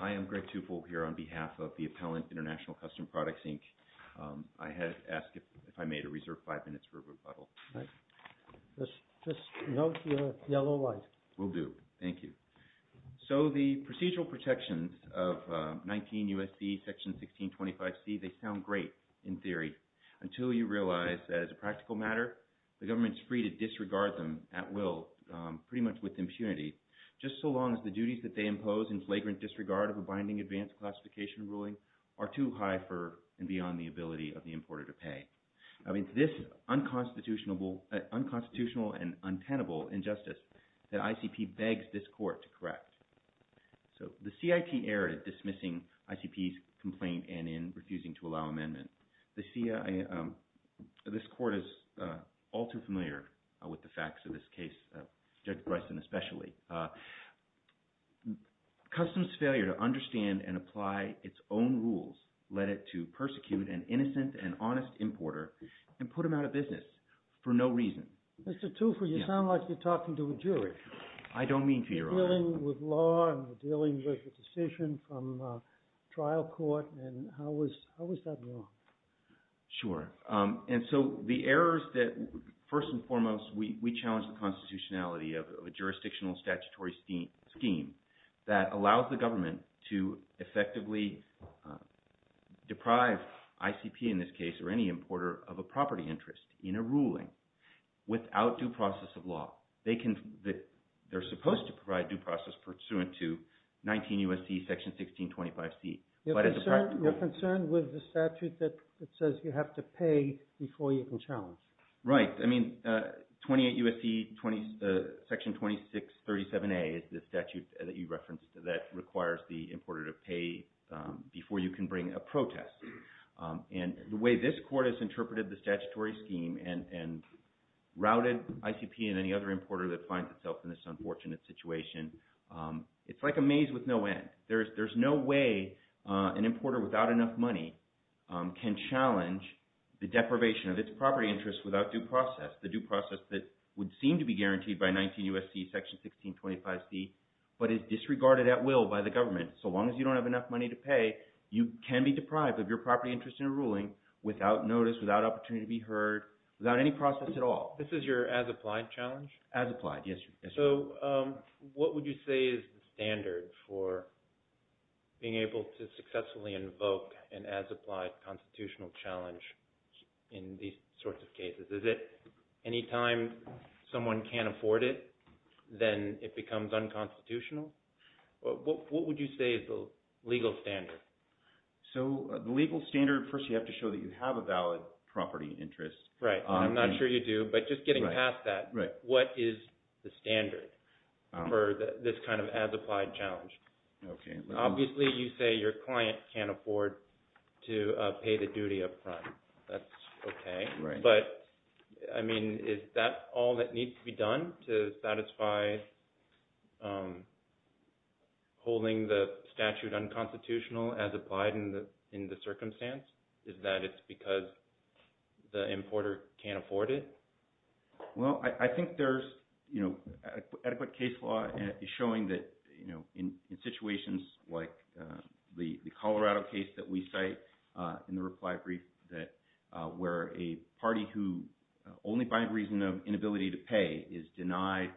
I am Greg Tufel here on behalf of the Appellant International Custom Products, Inc. I had asked if I may to reserve 5 minutes for rebuttal. Just note your yellow light. Will do. Thank you. So the procedural protections of 19 U.S.C. section 1625C, they sound great in theory until you realize that as a practical matter the government is free to disregard them at least as much with impunity just so long as the duties that they impose in flagrant disregard of a binding advanced classification ruling are too high for and beyond the ability of the importer to pay. I mean it's this unconstitutional and untenable injustice that ICP begs this court to correct. So the CIT erred at dismissing ICP's complaint and in refusing to allow amendment. This court is all too familiar with the facts of this case, Judge Bryson especially. Customs failure to understand and apply its own rules led it to persecute an innocent and honest importer and put him out of business for no reason. Mr. Tufel, you sound like you're talking to a jury. I don't mean to your honor. You're dealing with law and you're dealing with a decision from trial court and how is that wrong? Sure and so the errors that first and foremost we challenge the constitutionality of a jurisdictional statutory scheme that allows the government to effectively deprive ICP in this case or any importer of a property interest in a ruling without due process of law. They're supposed to provide due process pursuant to 19 U.S.C. Section 1625C. You're concerned with the statute that says you have to pay before you can challenge? Right. I mean 28 U.S.C. Section 2637A is the statute that you referenced that requires the importer to pay before you can bring a protest. And the way this court has interpreted the statutory scheme and routed ICP and any other importer that finds itself in this unfortunate situation, it's like a maze with no end. There's no way an importer without enough money can challenge the deprivation of its property interest without due process, the due process that would seem to be guaranteed by 19 U.S.C. Section 1625C but is disregarded at will by the government. So long as you don't have enough money to pay, you can be deprived of your property interest in a ruling without notice, without opportunity to be heard, without any process at all. This is your as-applied challenge? As-applied, yes. So what would you say is the standard for being able to successfully invoke an as-applied constitutional challenge in these sorts of cases? Is it anytime someone can't afford it, then it becomes unconstitutional? What would you say is the legal standard? So the legal standard, first you have to show that you have a valid property interest. Right, and I'm not sure you do, but just getting past that, what is the standard for this kind of as-applied challenge? Obviously you say your client can't afford to pay the duty upfront. That's okay, but I mean is that all that needs to be done to satisfy holding the statute unconstitutional as applied in the circumstance? Is that it's because the importer can't afford it? Well, I think there's adequate case law showing that in situations like the Colorado case that we cite in the reply brief, that where a party who only by reason of inability to pay is denied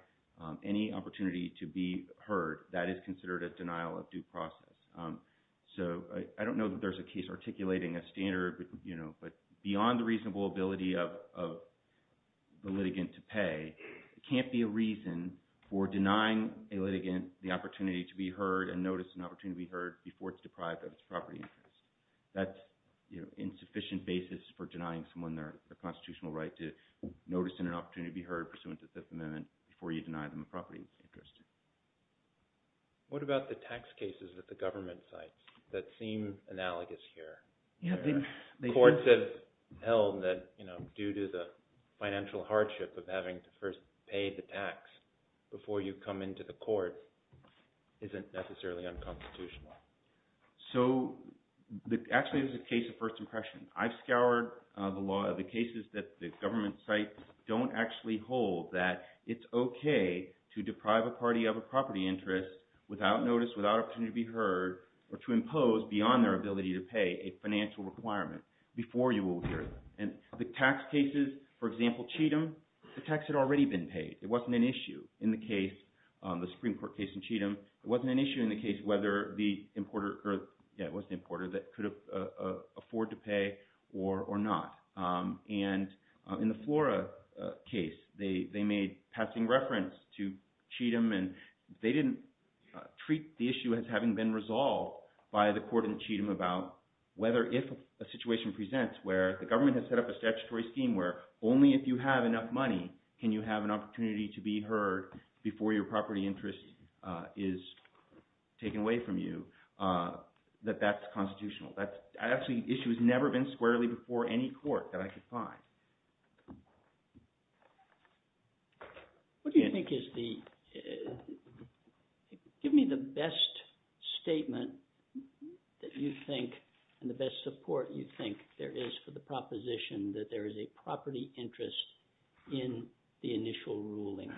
any opportunity to be heard, that is considered a denial of due process. So I don't know that there's a case articulating a standard, but you know, but beyond the reasonable ability of the litigant to pay, it can't be a reason for denying a litigant the opportunity to be heard and notice an opportunity to be heard before it's deprived of its property interest. That's insufficient basis for denying someone their constitutional right to notice and an opportunity to be heard pursuant to Fifth Amendment before you deny them a property interest. What about the tax cases at the government sites that seem analogous here? The courts have held that due to the financial hardship of having to first pay the tax before you come into the court isn't necessarily unconstitutional. So actually it's a case of first impression. I've scoured the law, the cases that government sites don't actually hold that it's okay to deprive a party of a property interest without notice, without opportunity to be heard, or to impose beyond their ability to pay a financial requirement before you will hear it. And the tax cases, for example, Cheatham, the tax had already been paid. It wasn't an issue in the case, the Supreme Court case in Cheatham, it wasn't an issue in the case whether the importer that could afford to pay or not. And in the Flora case, they made passing reference to Cheatham and they didn't treat the issue as having been resolved by the court in Cheatham about whether if a situation presents where the government has set up a statutory scheme where only if you have enough money can you have an opportunity to be heard before your property interest is taken away from you, that that's constitutional. That issue has never been squarely before any court that I could find. What do you think is the, give me the best statement that you think and the best support you think there is for the proposition that there is a property interest in the initial ruling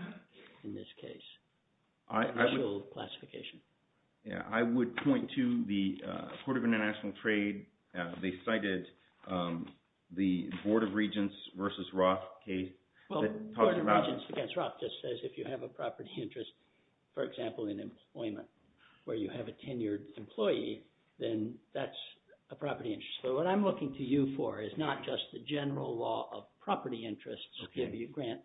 in this case, initial classification? Yeah, I would point to the Court of International Trade. They cited the Board of Regents versus Roth case. Well, the Board of Regents against Roth just says if you have a property interest, for example, in employment where you have a tenured employee, then that's a property interest. So what I'm looking to you for is not just the general law of property interests, okay, if you grant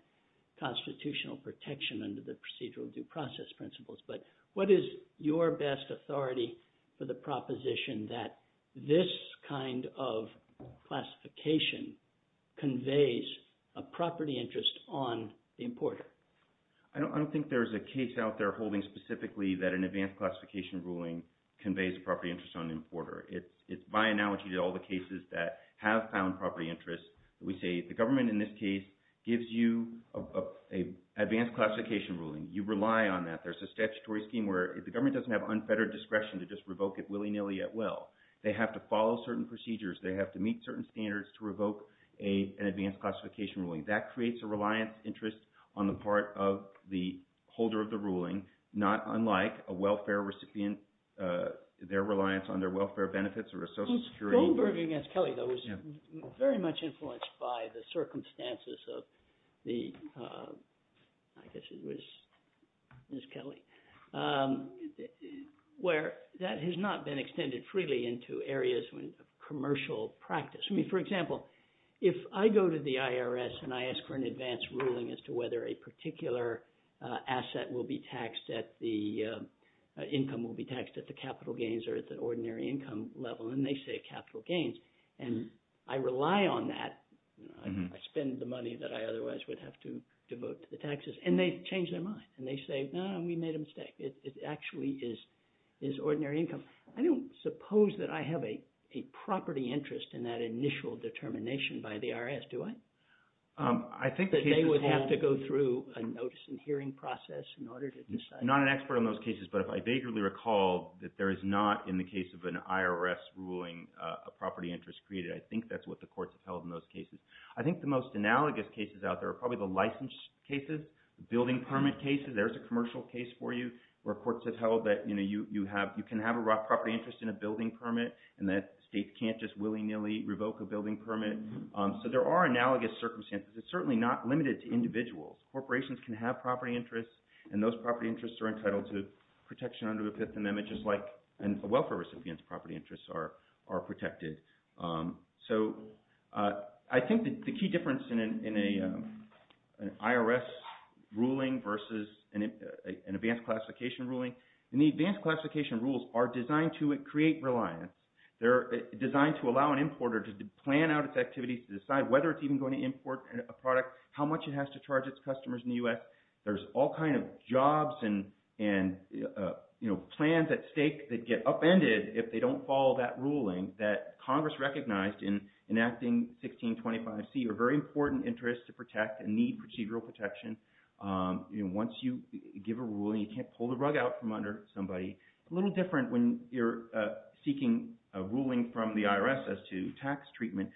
constitutional protection under the procedural due process principles, but what is your best authority for the proposition that this kind of classification conveys a property interest on the importer? I don't think there's a case out there holding specifically that an advanced classification ruling conveys property interest on the importer. It's by analogy to all the cases that have found property interest. We say the government in this case gives you an advanced classification ruling. You rely on that. There's a statutory scheme where if the government doesn't have unfettered discretion to just revoke it willy-nilly at will, they have to follow certain procedures. They have to meet certain standards to revoke an advanced classification ruling. That creates a reliance interest on the part of the reliance on their welfare benefits or a social security. Goldberg against Kelly, though, was very much influenced by the circumstances of the, I guess it was Ms. Kelly, where that has not been extended freely into areas of commercial practice. I mean, for example, if I go to the IRS and I ask for an advanced ruling as to whether a particular asset will be taxed at the, income will be taxed at the capital gains or at the ordinary income level, and they say capital gains, and I rely on that. I spend the money that I otherwise would have to devote to the taxes. And they change their mind. And they say, no, we made a mistake. It actually is ordinary income. I don't suppose that I have a property interest in that initial determination by the IRS, do I? That they would have to go through a notice and hearing process in order to decide. I'm not an expert on those cases, but if I vaguely recall that there is not, in the case of an IRS ruling, a property interest created, I think that's what the courts have held in those cases. I think the most analogous cases out there are probably the license cases, building permit cases. There's a commercial case for you where courts have held that you can have a property interest in a building permit, and that states can't just willy-nilly revoke a building permit. So there are analogous circumstances. It's certainly not limited to individuals. Corporations can have property interests, and those property interests are entitled to protection under the Fifth Amendment just like welfare recipients' property interests are protected. So I think the key difference in an IRS ruling versus an advanced classification ruling – and the advanced classification rules are designed to create reliance. They're designed to allow an importer to plan out its activities, to decide whether it's even going to import a product, how much it has to charge its customers in the U.S. There's all kinds of jobs and plans at stake that get upended if they don't follow that ruling that Congress recognized in enacting 1625C are very important interests to protect and need procedural protection. Once you give a ruling, you can't pull the rug out from under somebody. It's a little different when you're seeking a ruling from the IRS as to tax treatment.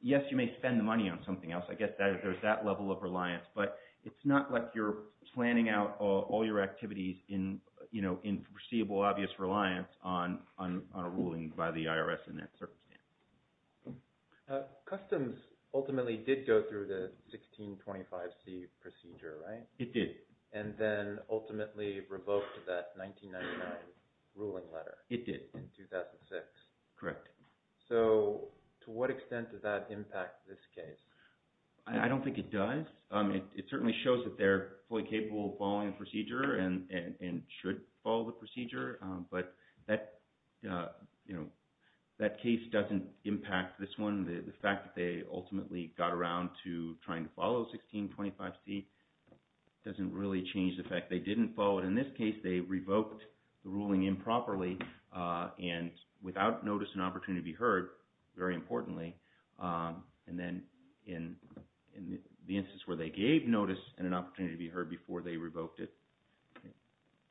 Yes, you may spend the money on something else. I guess there's that level of reliance. But it's not like you're planning out all your activities in foreseeable obvious reliance on a ruling by the IRS in that circumstance. Customs ultimately did go through the 1625C procedure, right? It did. And then ultimately revoked that 1999 ruling letter. It did. In 2006. Correct. So to what extent does that impact this case? I don't think it does. It certainly shows that they're fully capable of following the procedure and should follow the procedure. But that case doesn't impact this one. The fact that they ultimately got around to trying to follow 1625C doesn't really change the fact they didn't follow it. Because in this case, they revoked the ruling improperly and without notice and opportunity to be heard, very importantly. And then in the instance where they gave notice and an opportunity to be heard before they revoked it,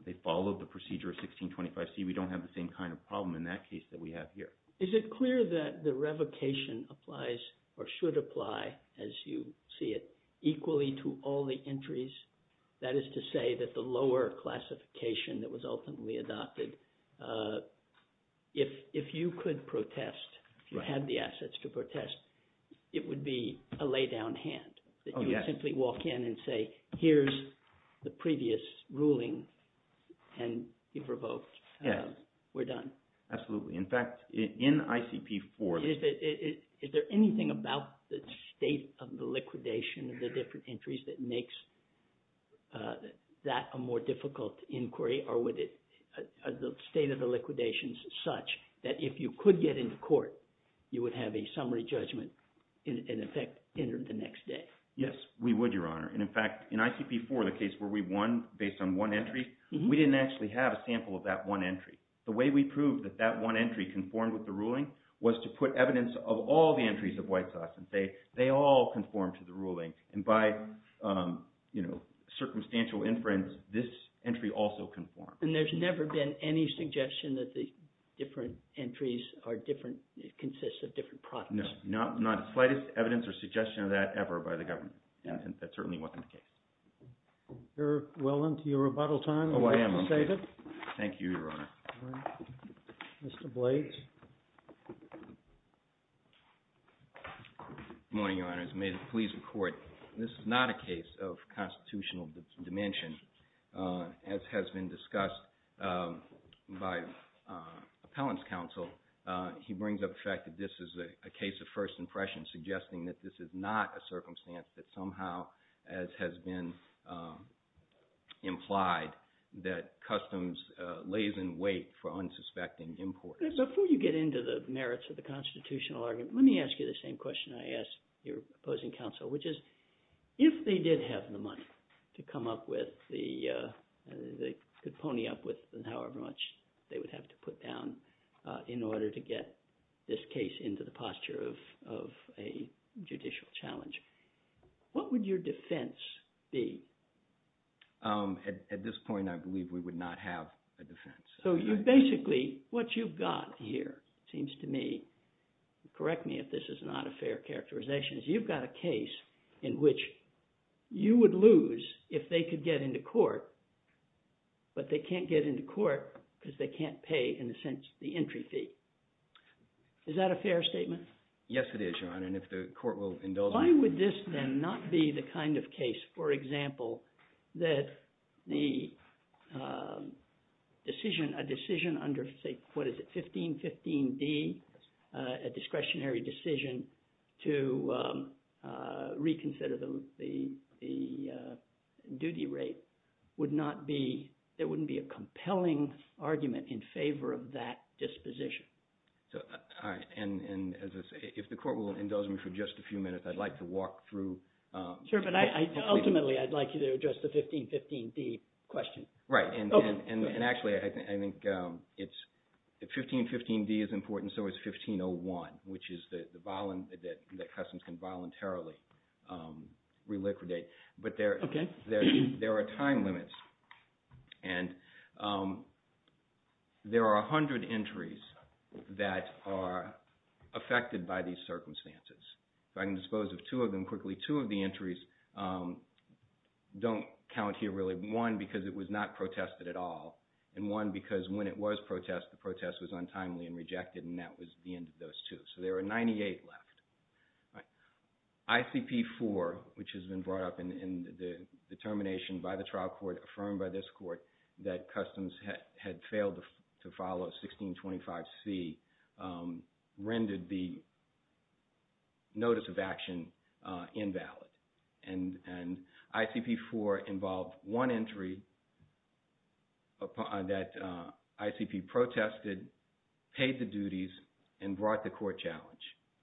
they followed the procedure of 1625C. We don't have the same kind of problem in that case that we have here. Is it clear that the revocation applies or should apply, as you see it, equally to all the entries? That is to say that the lower classification that was ultimately adopted, if you could protest, if you had the assets to protest, it would be a laydown hand. Oh, yes. That you would simply walk in and say, here's the previous ruling, and you've revoked. Yes. We're done. Absolutely. In fact, in ICP-4… Is there anything about the state of the liquidation of the different entries that makes that a more difficult inquiry? Or would it – are the state of the liquidations such that if you could get into court, you would have a summary judgment in effect entered the next day? Yes, we would, Your Honor. And in fact, in ICP-4, the case where we won based on one entry, we didn't actually have a sample of that one entry. The way we proved that that one entry conformed with the ruling was to put evidence of all the entries of White Sauce, and they all conformed to the ruling. And by circumstantial inference, this entry also conformed. And there's never been any suggestion that the different entries are different – consist of different products? No, not the slightest evidence or suggestion of that ever by the government. And that certainly wasn't the case. We're well into your rebuttal time. Oh, I am. Thank you, Your Honor. Mr. Blades. Good morning, Your Honors. May the police report. This is not a case of constitutional dimension. As has been discussed by appellant's counsel, he brings up the fact that this is a case of first impression, suggesting that this is not a circumstance that somehow, as has been implied, that customs lays in wait for unsuspecting imports. Before you get into the merits of the constitutional argument, let me ask you the same question I asked your opposing counsel, which is if they did have the money to come up with the – they could pony up with however much they would have to put down in order to get this case into the posture of a judicial challenge, what would your defense be? At this point, I believe we would not have a defense. So you basically – what you've got here seems to me – correct me if this is not a fair characterization. You've got a case in which you would lose if they could get into court, but they can't get into court because they can't pay, in a sense, the entry fee. Is that a fair statement? Yes, it is, Your Honor, and if the court will indulge me. Why would this then not be the kind of case, for example, that the decision – a decision under, say, what is it, 1515d, a discretionary decision to reconsider the duty rate would not be – there wouldn't be a compelling argument in favor of that disposition? All right, and as I say, if the court will indulge me for just a few minutes, I'd like to walk through. Sure, but ultimately, I'd like you to address the 1515d question. Right, and actually, I think it's – if 1515d is important, so is 1501, which is the – that customs can voluntarily reliquidate. Okay. There are time limits, and there are 100 entries that are affected by these circumstances. If I can dispose of two of them quickly, two of the entries don't count here really. One, because it was not protested at all, and one, because when it was protested, the protest was untimely and rejected, and that was the end of those two. So there are 98 left. ICP-4, which has been brought up in the determination by the trial court, affirmed by this court, that customs had failed to follow 1625c, rendered the notice of action invalid. And ICP-4 involved one entry that ICP protested, paid the duties, and brought the court challenge.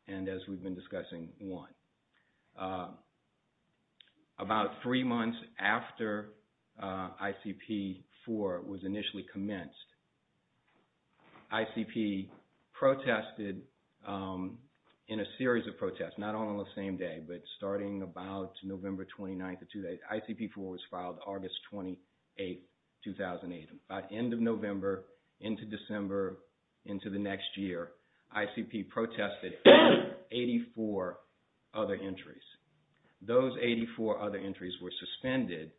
And as we've been discussing, one. About three months after ICP-4 was initially commenced, ICP protested in a series of protests, not all on the same day, but starting about November 29th. ICP-4 was filed August 28th, 2008. By the end of November, into December, into the next year, ICP protested 84 other entries. Those 84 other entries were suspended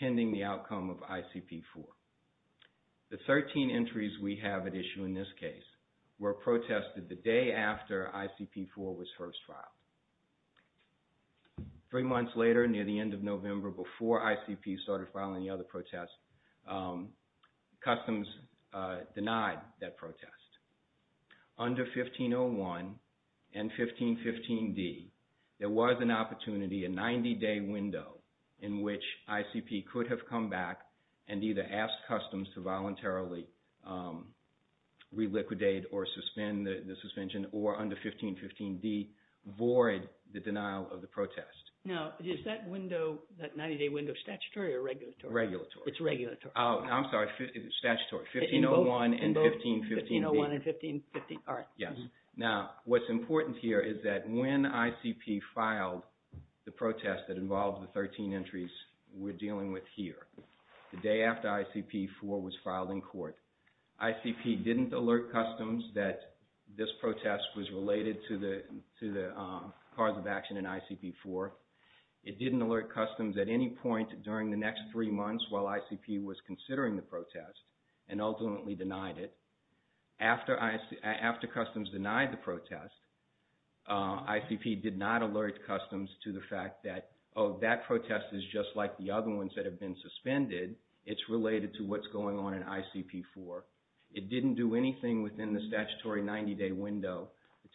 pending the outcome of ICP-4. The 13 entries we have at issue in this case were protested the day after ICP-4 was first filed. Three months later, near the end of November, before ICP started filing the other protests, customs denied that protest. Under 1501 and 1515d, there was an opportunity, a 90-day window, in which ICP could have come back and either asked customs to voluntarily reliquidate or suspend the suspension, or under 1515d, void the denial of the protest. Now, is that window, that 90-day window, statutory or regulatory? Regulatory. It's regulatory. Oh, I'm sorry. Statutory. 1501 and 1515d. 1501 and 1515, all right. Yes. Now, what's important here is that when ICP filed the protest that involved the 13 entries we're dealing with here, the day after ICP-4 was filed in court, ICP didn't alert customs that this protest was related to the cause of action in ICP-4. It didn't alert customs at any point during the next three months while ICP was considering the protest and ultimately denied it. After customs denied the protest, ICP did not alert customs to the fact that, oh, that protest is just like the other ones that have been suspended. It's related to what's going on in ICP-4. It didn't do anything within the statutory 90-day window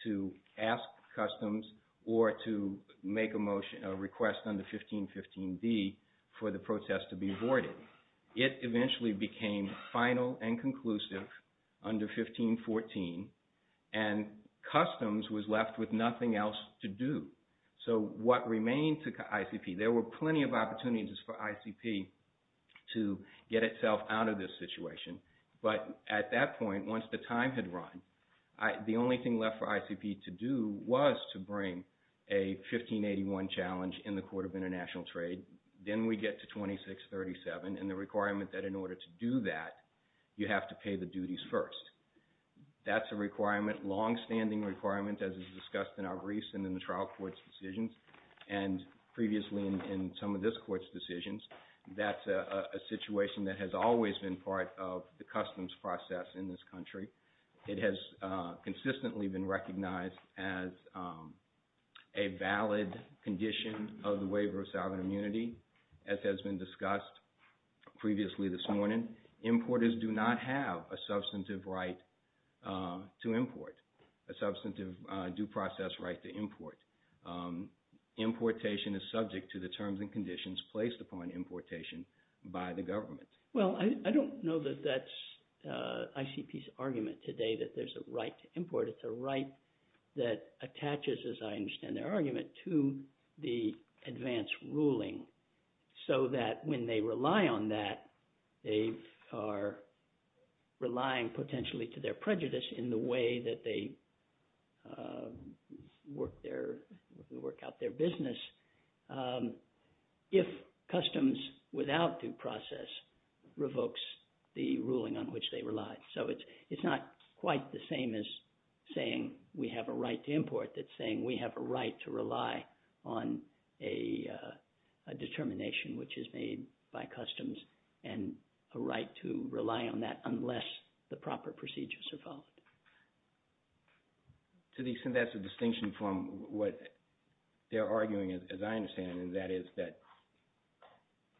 to ask customs or to make a request under 1515d for the protest to be voided. It eventually became final and conclusive under 1514, and customs was left with nothing else to do. So what remained to ICP, there were plenty of opportunities for ICP to get itself out of this situation. But at that point, once the time had run, the only thing left for ICP to do was to bring a 1581 challenge in the Court of International Trade. Then we get to 2637 and the requirement that in order to do that, you have to pay the duties first. That's a requirement, longstanding requirement, as is discussed in our briefs and in the trial court's decisions and previously in some of this court's decisions. That's a situation that has always been part of the customs process in this country. It has consistently been recognized as a valid condition of the waiver of sovereign immunity, as has been discussed previously this morning. And importers do not have a substantive right to import, a substantive due process right to import. Importation is subject to the terms and conditions placed upon importation by the government. Well, I don't know that that's ICP's argument today that there's a right to import. It's a right that attaches, as I understand their argument, to the advance ruling so that when they rely on that, they are relying potentially to their prejudice in the way that they work out their business if customs without due process revokes the ruling on which they rely. So it's not quite the same as saying we have a right to import. It's saying we have a right to rely on a determination which is made by customs and a right to rely on that unless the proper procedures are followed. To the extent that's a distinction from what they're arguing, as I understand it, and that is that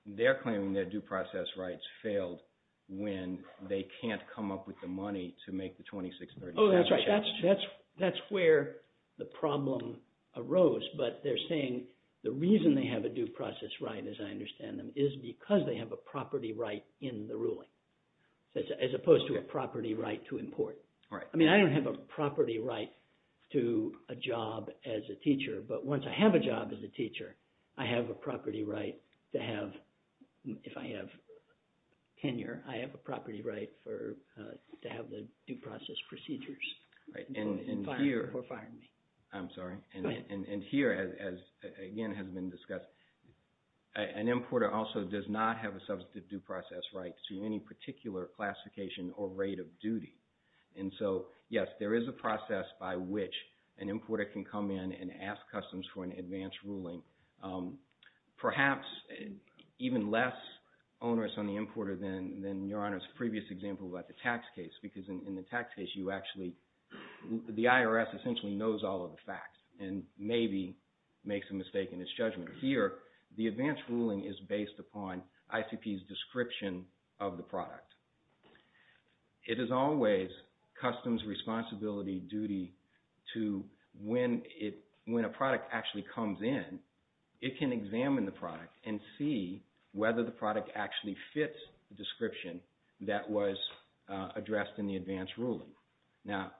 they're claiming their due process rights failed when they can't come up with the money to make the 2630. Oh, that's right. That's where the problem arose. But they're saying the reason they have a due process right, as I understand them, is because they have a property right in the ruling as opposed to a property right to import. I mean I don't have a property right to a job as a teacher, but once I have a job as a teacher, I have a property right to have – if I have tenure, I have a property right to have the due process procedures before firing me. I'm sorry. And here, as again has been discussed, an importer also does not have a substantive due process right to any particular classification or rate of duty. And so, yes, there is a process by which an importer can come in and ask customs for an advance ruling, perhaps even less onerous on the importer than Your Honor's previous example about the tax case. Because in the tax case, you actually – the IRS essentially knows all of the facts and maybe makes a mistake in its judgment. Here, the advance ruling is based upon ICP's description of the product. It is always customs responsibility duty to – when a product actually comes in, it can examine the product and see whether the product actually fits the description that was addressed in the advance ruling. Now,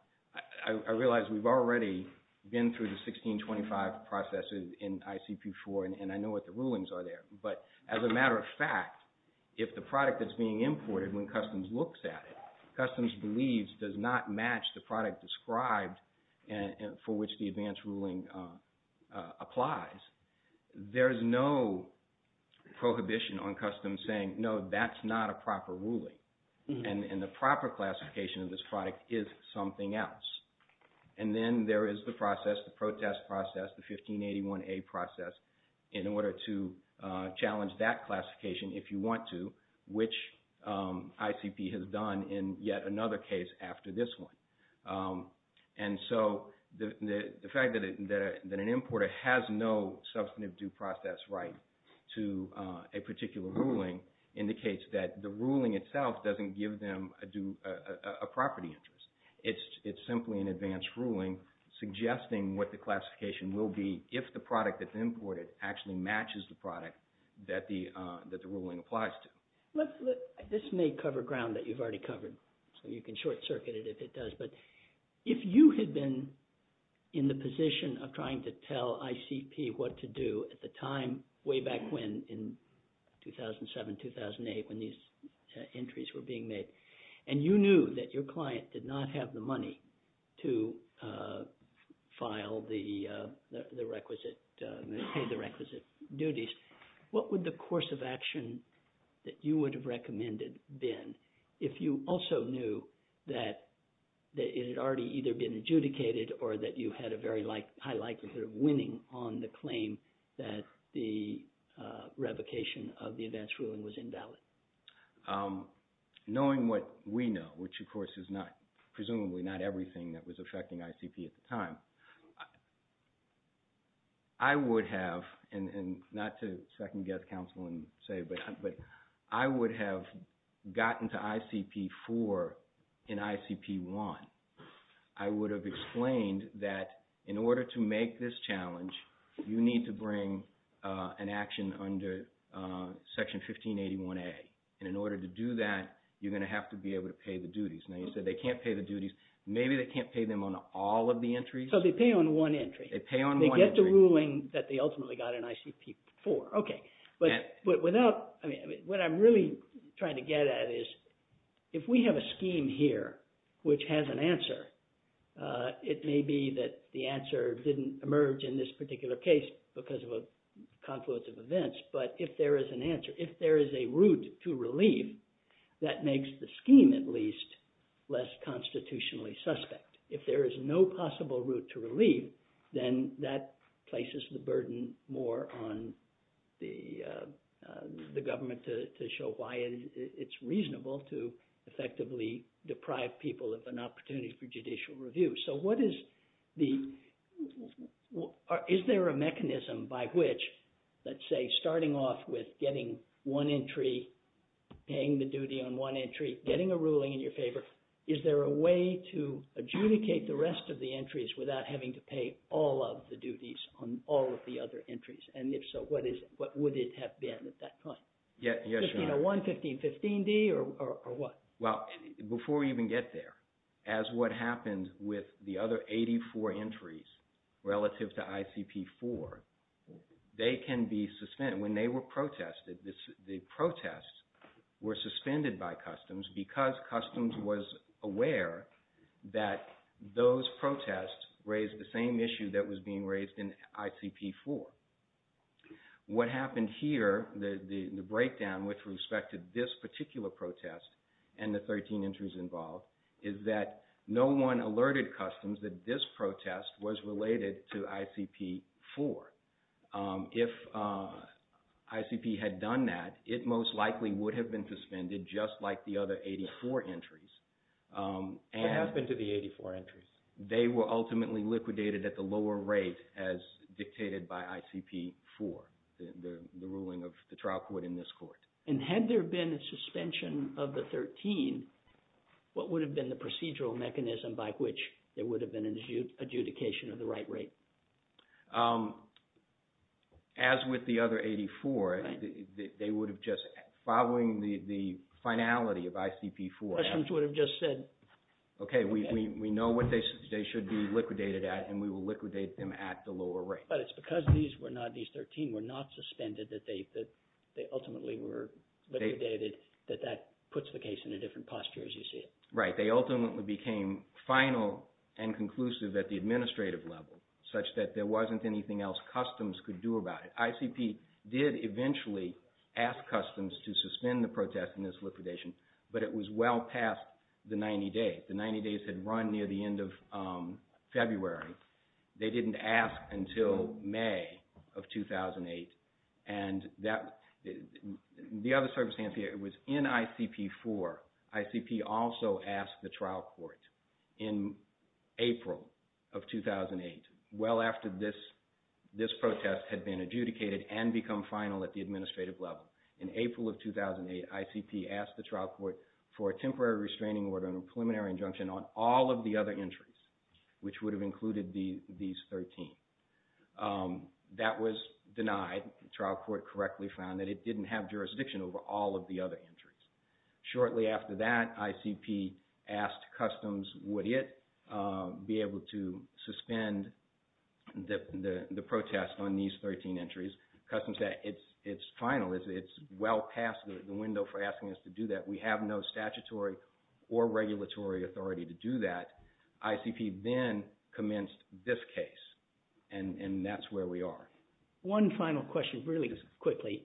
I realize we've already been through the 1625 processes in ICP-4, and I know what the rulings are there. But as a matter of fact, if the product that's being imported, when customs looks at it, customs believes does not match the product described for which the advance ruling applies, there is no prohibition on customs saying, no, that's not a proper ruling. And the proper classification of this product is something else. And then there is the process, the protest process, the 1581A process, in order to challenge that classification if you want to, which ICP has done in yet another case after this one. And so the fact that an importer has no substantive due process right to a particular ruling indicates that the ruling itself doesn't give them a property interest. It's simply an advance ruling suggesting what the classification will be if the product that's imported actually matches the product that the ruling applies to. This may cover ground that you've already covered, so you can short-circuit it if it does. But if you had been in the position of trying to tell ICP what to do at the time, way back when, in 2007, 2008, when these entries were being made, and you knew that your client did not have the money to file the requisite – pay the requisite duties, what would the course of action that you would have recommended been if you also knew that it had already either been adjudicated or that you had a very high likelihood of winning on the claim that the revocation of the advance ruling was invalid? Knowing what we know, which of course is not – presumably not everything that was affecting ICP at the time, I would have – and not to second-guess counsel and say, but I would have gotten to ICP-4 in ICP-1. I would have explained that in order to make this challenge, you need to bring an action under Section 1581A. And in order to do that, you're going to have to be able to pay the duties. Now, you said they can't pay the duties. Maybe they can't pay them on all of the entries. So they pay on one entry. They pay on one entry. They get the ruling that they ultimately got in ICP-4. But without – what I'm really trying to get at is if we have a scheme here which has an answer, it may be that the answer didn't emerge in this particular case because of a confluence of events. But if there is an answer, if there is a route to relief, that makes the scheme at least less constitutionally suspect. If there is no possible route to relief, then that places the burden more on the government to show why it's reasonable to effectively deprive people of an opportunity for judicial review. So what is the – is there a mechanism by which, let's say, starting off with getting one entry, paying the duty on one entry, getting a ruling in your favor, is there a way to adjudicate the rest of the entries without having to pay all of the duties on all of the other entries? And if so, what would it have been at that time? 1501, 1515d, or what? Well, before we even get there, as what happened with the other 84 entries relative to ICP-4, they can be suspended. When they were protested, the protests were suspended by Customs because Customs was aware that those protests raised the same issue that was being raised in ICP-4. What happened here, the breakdown with respect to this particular protest and the 13 entries involved, is that no one alerted Customs that this protest was related to ICP-4. If ICP had done that, it most likely would have been suspended just like the other 84 entries. What happened to the 84 entries? They were ultimately liquidated at the lower rate as dictated by ICP-4, the ruling of the trial court in this court. And had there been a suspension of the 13, what would have been the procedural mechanism by which there would have been an adjudication of the right rate? As with the other 84, they would have just, following the finality of ICP-4… Customs would have just said… Okay, we know what they should be liquidated at and we will liquidate them at the lower rate. But it's because these 13 were not suspended that they ultimately were liquidated that that puts the case in a different posture as you see it. Right, they ultimately became final and conclusive at the administrative level such that there wasn't anything else Customs could do about it. ICP did eventually ask Customs to suspend the protest in this liquidation, but it was well past the 90 days. The 90 days had run near the end of February. They didn't ask until May of 2008. And the other circumstance here was in ICP-4, ICP also asked the trial court in April of 2008, well after this protest had been adjudicated and become final at the administrative level. In April of 2008, ICP asked the trial court for a temporary restraining order and a preliminary injunction on all of the other entries, which would have included these 13. That was denied. The trial court correctly found that it didn't have jurisdiction over all of the other entries. Shortly after that, ICP asked Customs would it be able to suspend the protest on these 13 entries. Customs said it's final, it's well past the window for asking us to do that. We have no statutory or regulatory authority to do that. ICP then commenced this case, and that's where we are. One final question, really quickly.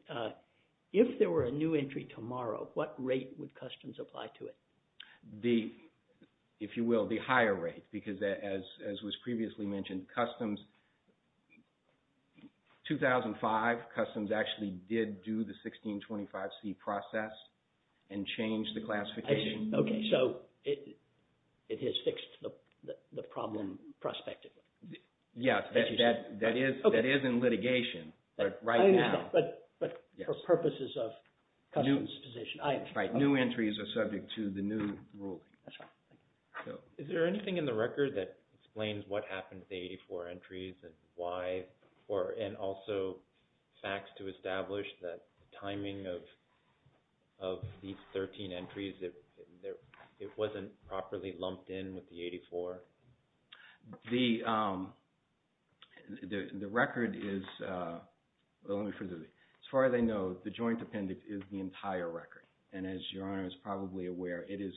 If there were a new entry tomorrow, what rate would Customs apply to it? The, if you will, the higher rate, because as was previously mentioned, Customs, 2005, Customs actually did do the 1625C process and changed the classification. Okay, so it has fixed the problem prospectively. Yes, that is in litigation, but right now. But for purposes of Customs' position. Right, new entries are subject to the new ruling. That's right. Is there anything in the record that explains what happened to the 84 entries and why, and also facts to establish that timing of these 13 entries, it wasn't properly lumped in with the 84? The record is, as far as I know, the joint appendix is the entire record. And as Your Honor is probably aware, it is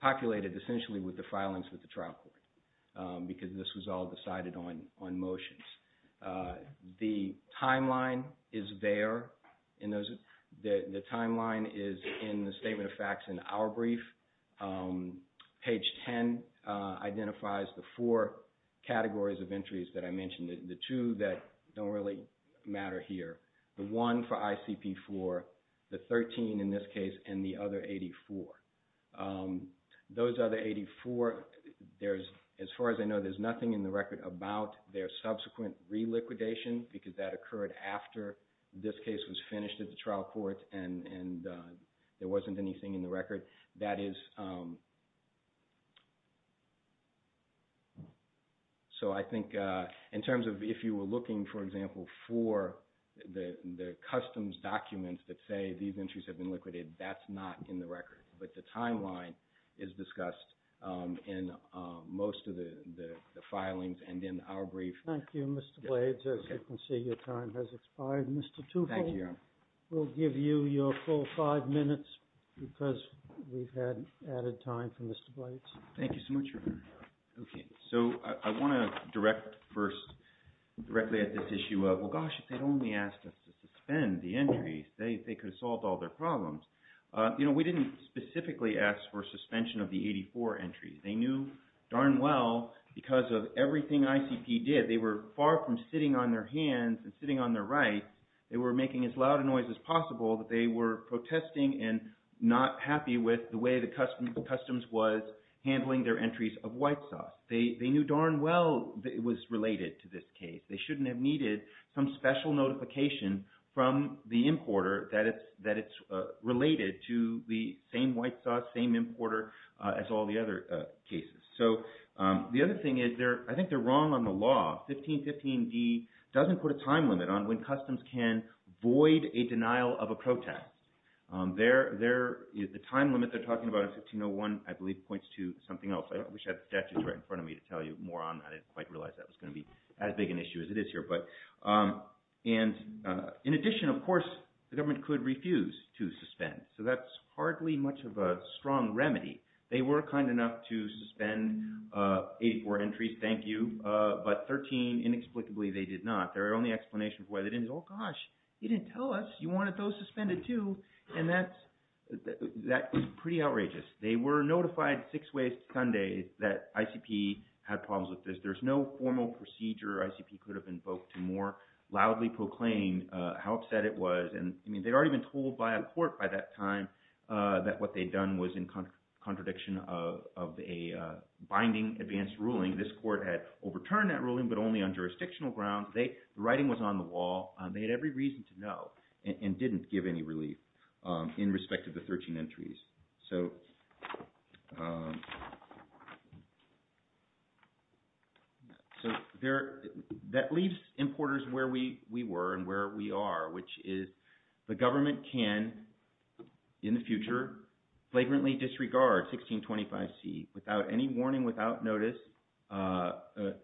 populated essentially with the filings with the trial court, because this was all decided on motions. The timeline is there. The timeline is in the statement of facts in our brief. Page 10 identifies the four categories of entries that I mentioned. The two that don't really matter here. The one for ICP-4, the 13 in this case, and the other 84. Those other 84, as far as I know, there's nothing in the record about their subsequent re-liquidation, because that occurred after this case was finished at the trial court and there wasn't anything in the record. So I think in terms of if you were looking, for example, for the Customs documents that say these entries have been liquidated, that's not in the record. But the timeline is discussed in most of the filings and in our brief. Thank you, Mr. Blades. As you can see, your time has expired. Mr. Tufo? Thank you, Your Honor. We'll give you your full five minutes, because we've had added time for Mr. Blades. Thank you so much, Your Honor. Okay. So I want to direct first directly at this issue of, well, gosh, if they'd only asked us to suspend the entries, they could have solved all their problems. We didn't specifically ask for suspension of the 84 entries. They knew darn well, because of everything ICP did, they were far from sitting on their hands and sitting on their right. They were making as loud a noise as possible that they were protesting and not happy with the way that Customs was handling their entries of white sauce. They knew darn well that it was related to this case. They shouldn't have needed some special notification from the importer that it's related to the same white sauce, same importer as all the other cases. So the other thing is I think they're wrong on the law. 1515d doesn't put a time limit on when Customs can void a denial of a protest. The time limit they're talking about in 1501, I believe, points to something else. I wish I had the statutes right in front of me to tell you more on that. I didn't quite realize that was going to be as big an issue as it is here. In addition, of course, the government could refuse to suspend. So that's hardly much of a strong remedy. They were kind enough to suspend 84 entries, thank you, but 13 inexplicably they did not. Their only explanation for why they didn't is, oh gosh, you didn't tell us. You wanted those suspended too, and that's pretty outrageous. They were notified six ways to Sunday that ICP had problems with this. There's no formal procedure ICP could have invoked to more loudly proclaim how upset it was. And, I mean, they'd already been told by a court by that time that what they'd done was in contradiction of a binding advance ruling. This court had overturned that ruling but only on jurisdictional grounds. The writing was on the wall. They had every reason to know and didn't give any relief in respect to the 13 entries. So that leaves importers where we were and where we are, which is the government can, in the future, flagrantly disregard 1625C. Without any warning, without notice, an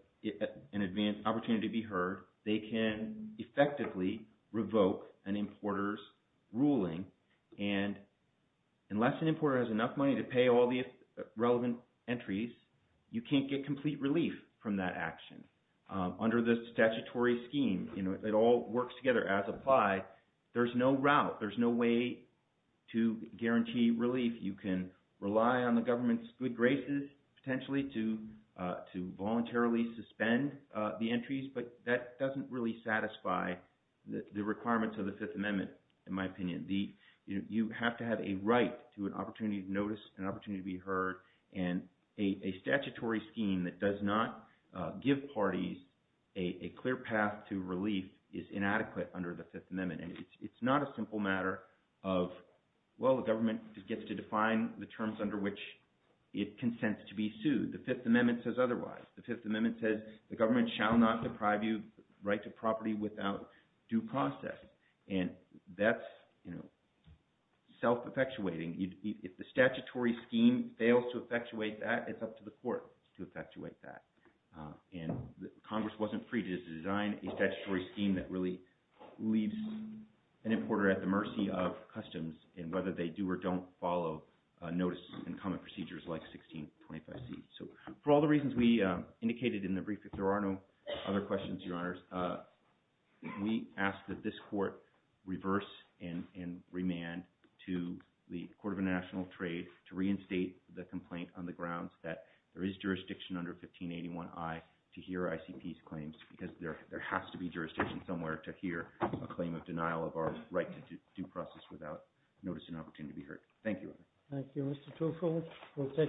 opportunity to be heard, they can effectively revoke an importer's ruling. And unless an importer has enough money to pay all the relevant entries, you can't get complete relief from that action. Under the statutory scheme, it all works together as applied. There's no route. There's no way to guarantee relief. You can rely on the government's good graces potentially to voluntarily suspend the entries, but that doesn't really satisfy the requirements of the Fifth Amendment in my opinion. You have to have a right to an opportunity to notice, an opportunity to be heard, and a statutory scheme that does not give parties a clear path to relief is inadequate under the Fifth Amendment. And it's not a simple matter of, well, the government gets to define the terms under which it consents to be sued. The Fifth Amendment says otherwise. The Fifth Amendment says the government shall not deprive you of the right to property without due process. And that's self-effectuating. If the statutory scheme fails to effectuate that, it's up to the court to effectuate that. And Congress wasn't free to design a statutory scheme that really leaves an importer at the mercy of customs in whether they do or don't follow notice and common procedures like 1625C. So for all the reasons we indicated in the brief, if there are no other questions, Your Honors, we ask that this court reverse and remand to the Court of International Trade to reinstate the complaint on the grounds that there is jurisdiction under 1581I to hear ICP's claims because there has to be jurisdiction somewhere to hear a claim of denial of our right to due process without notice and opportunity to be heard. Thank you. Thank you, Mr. Truffaut.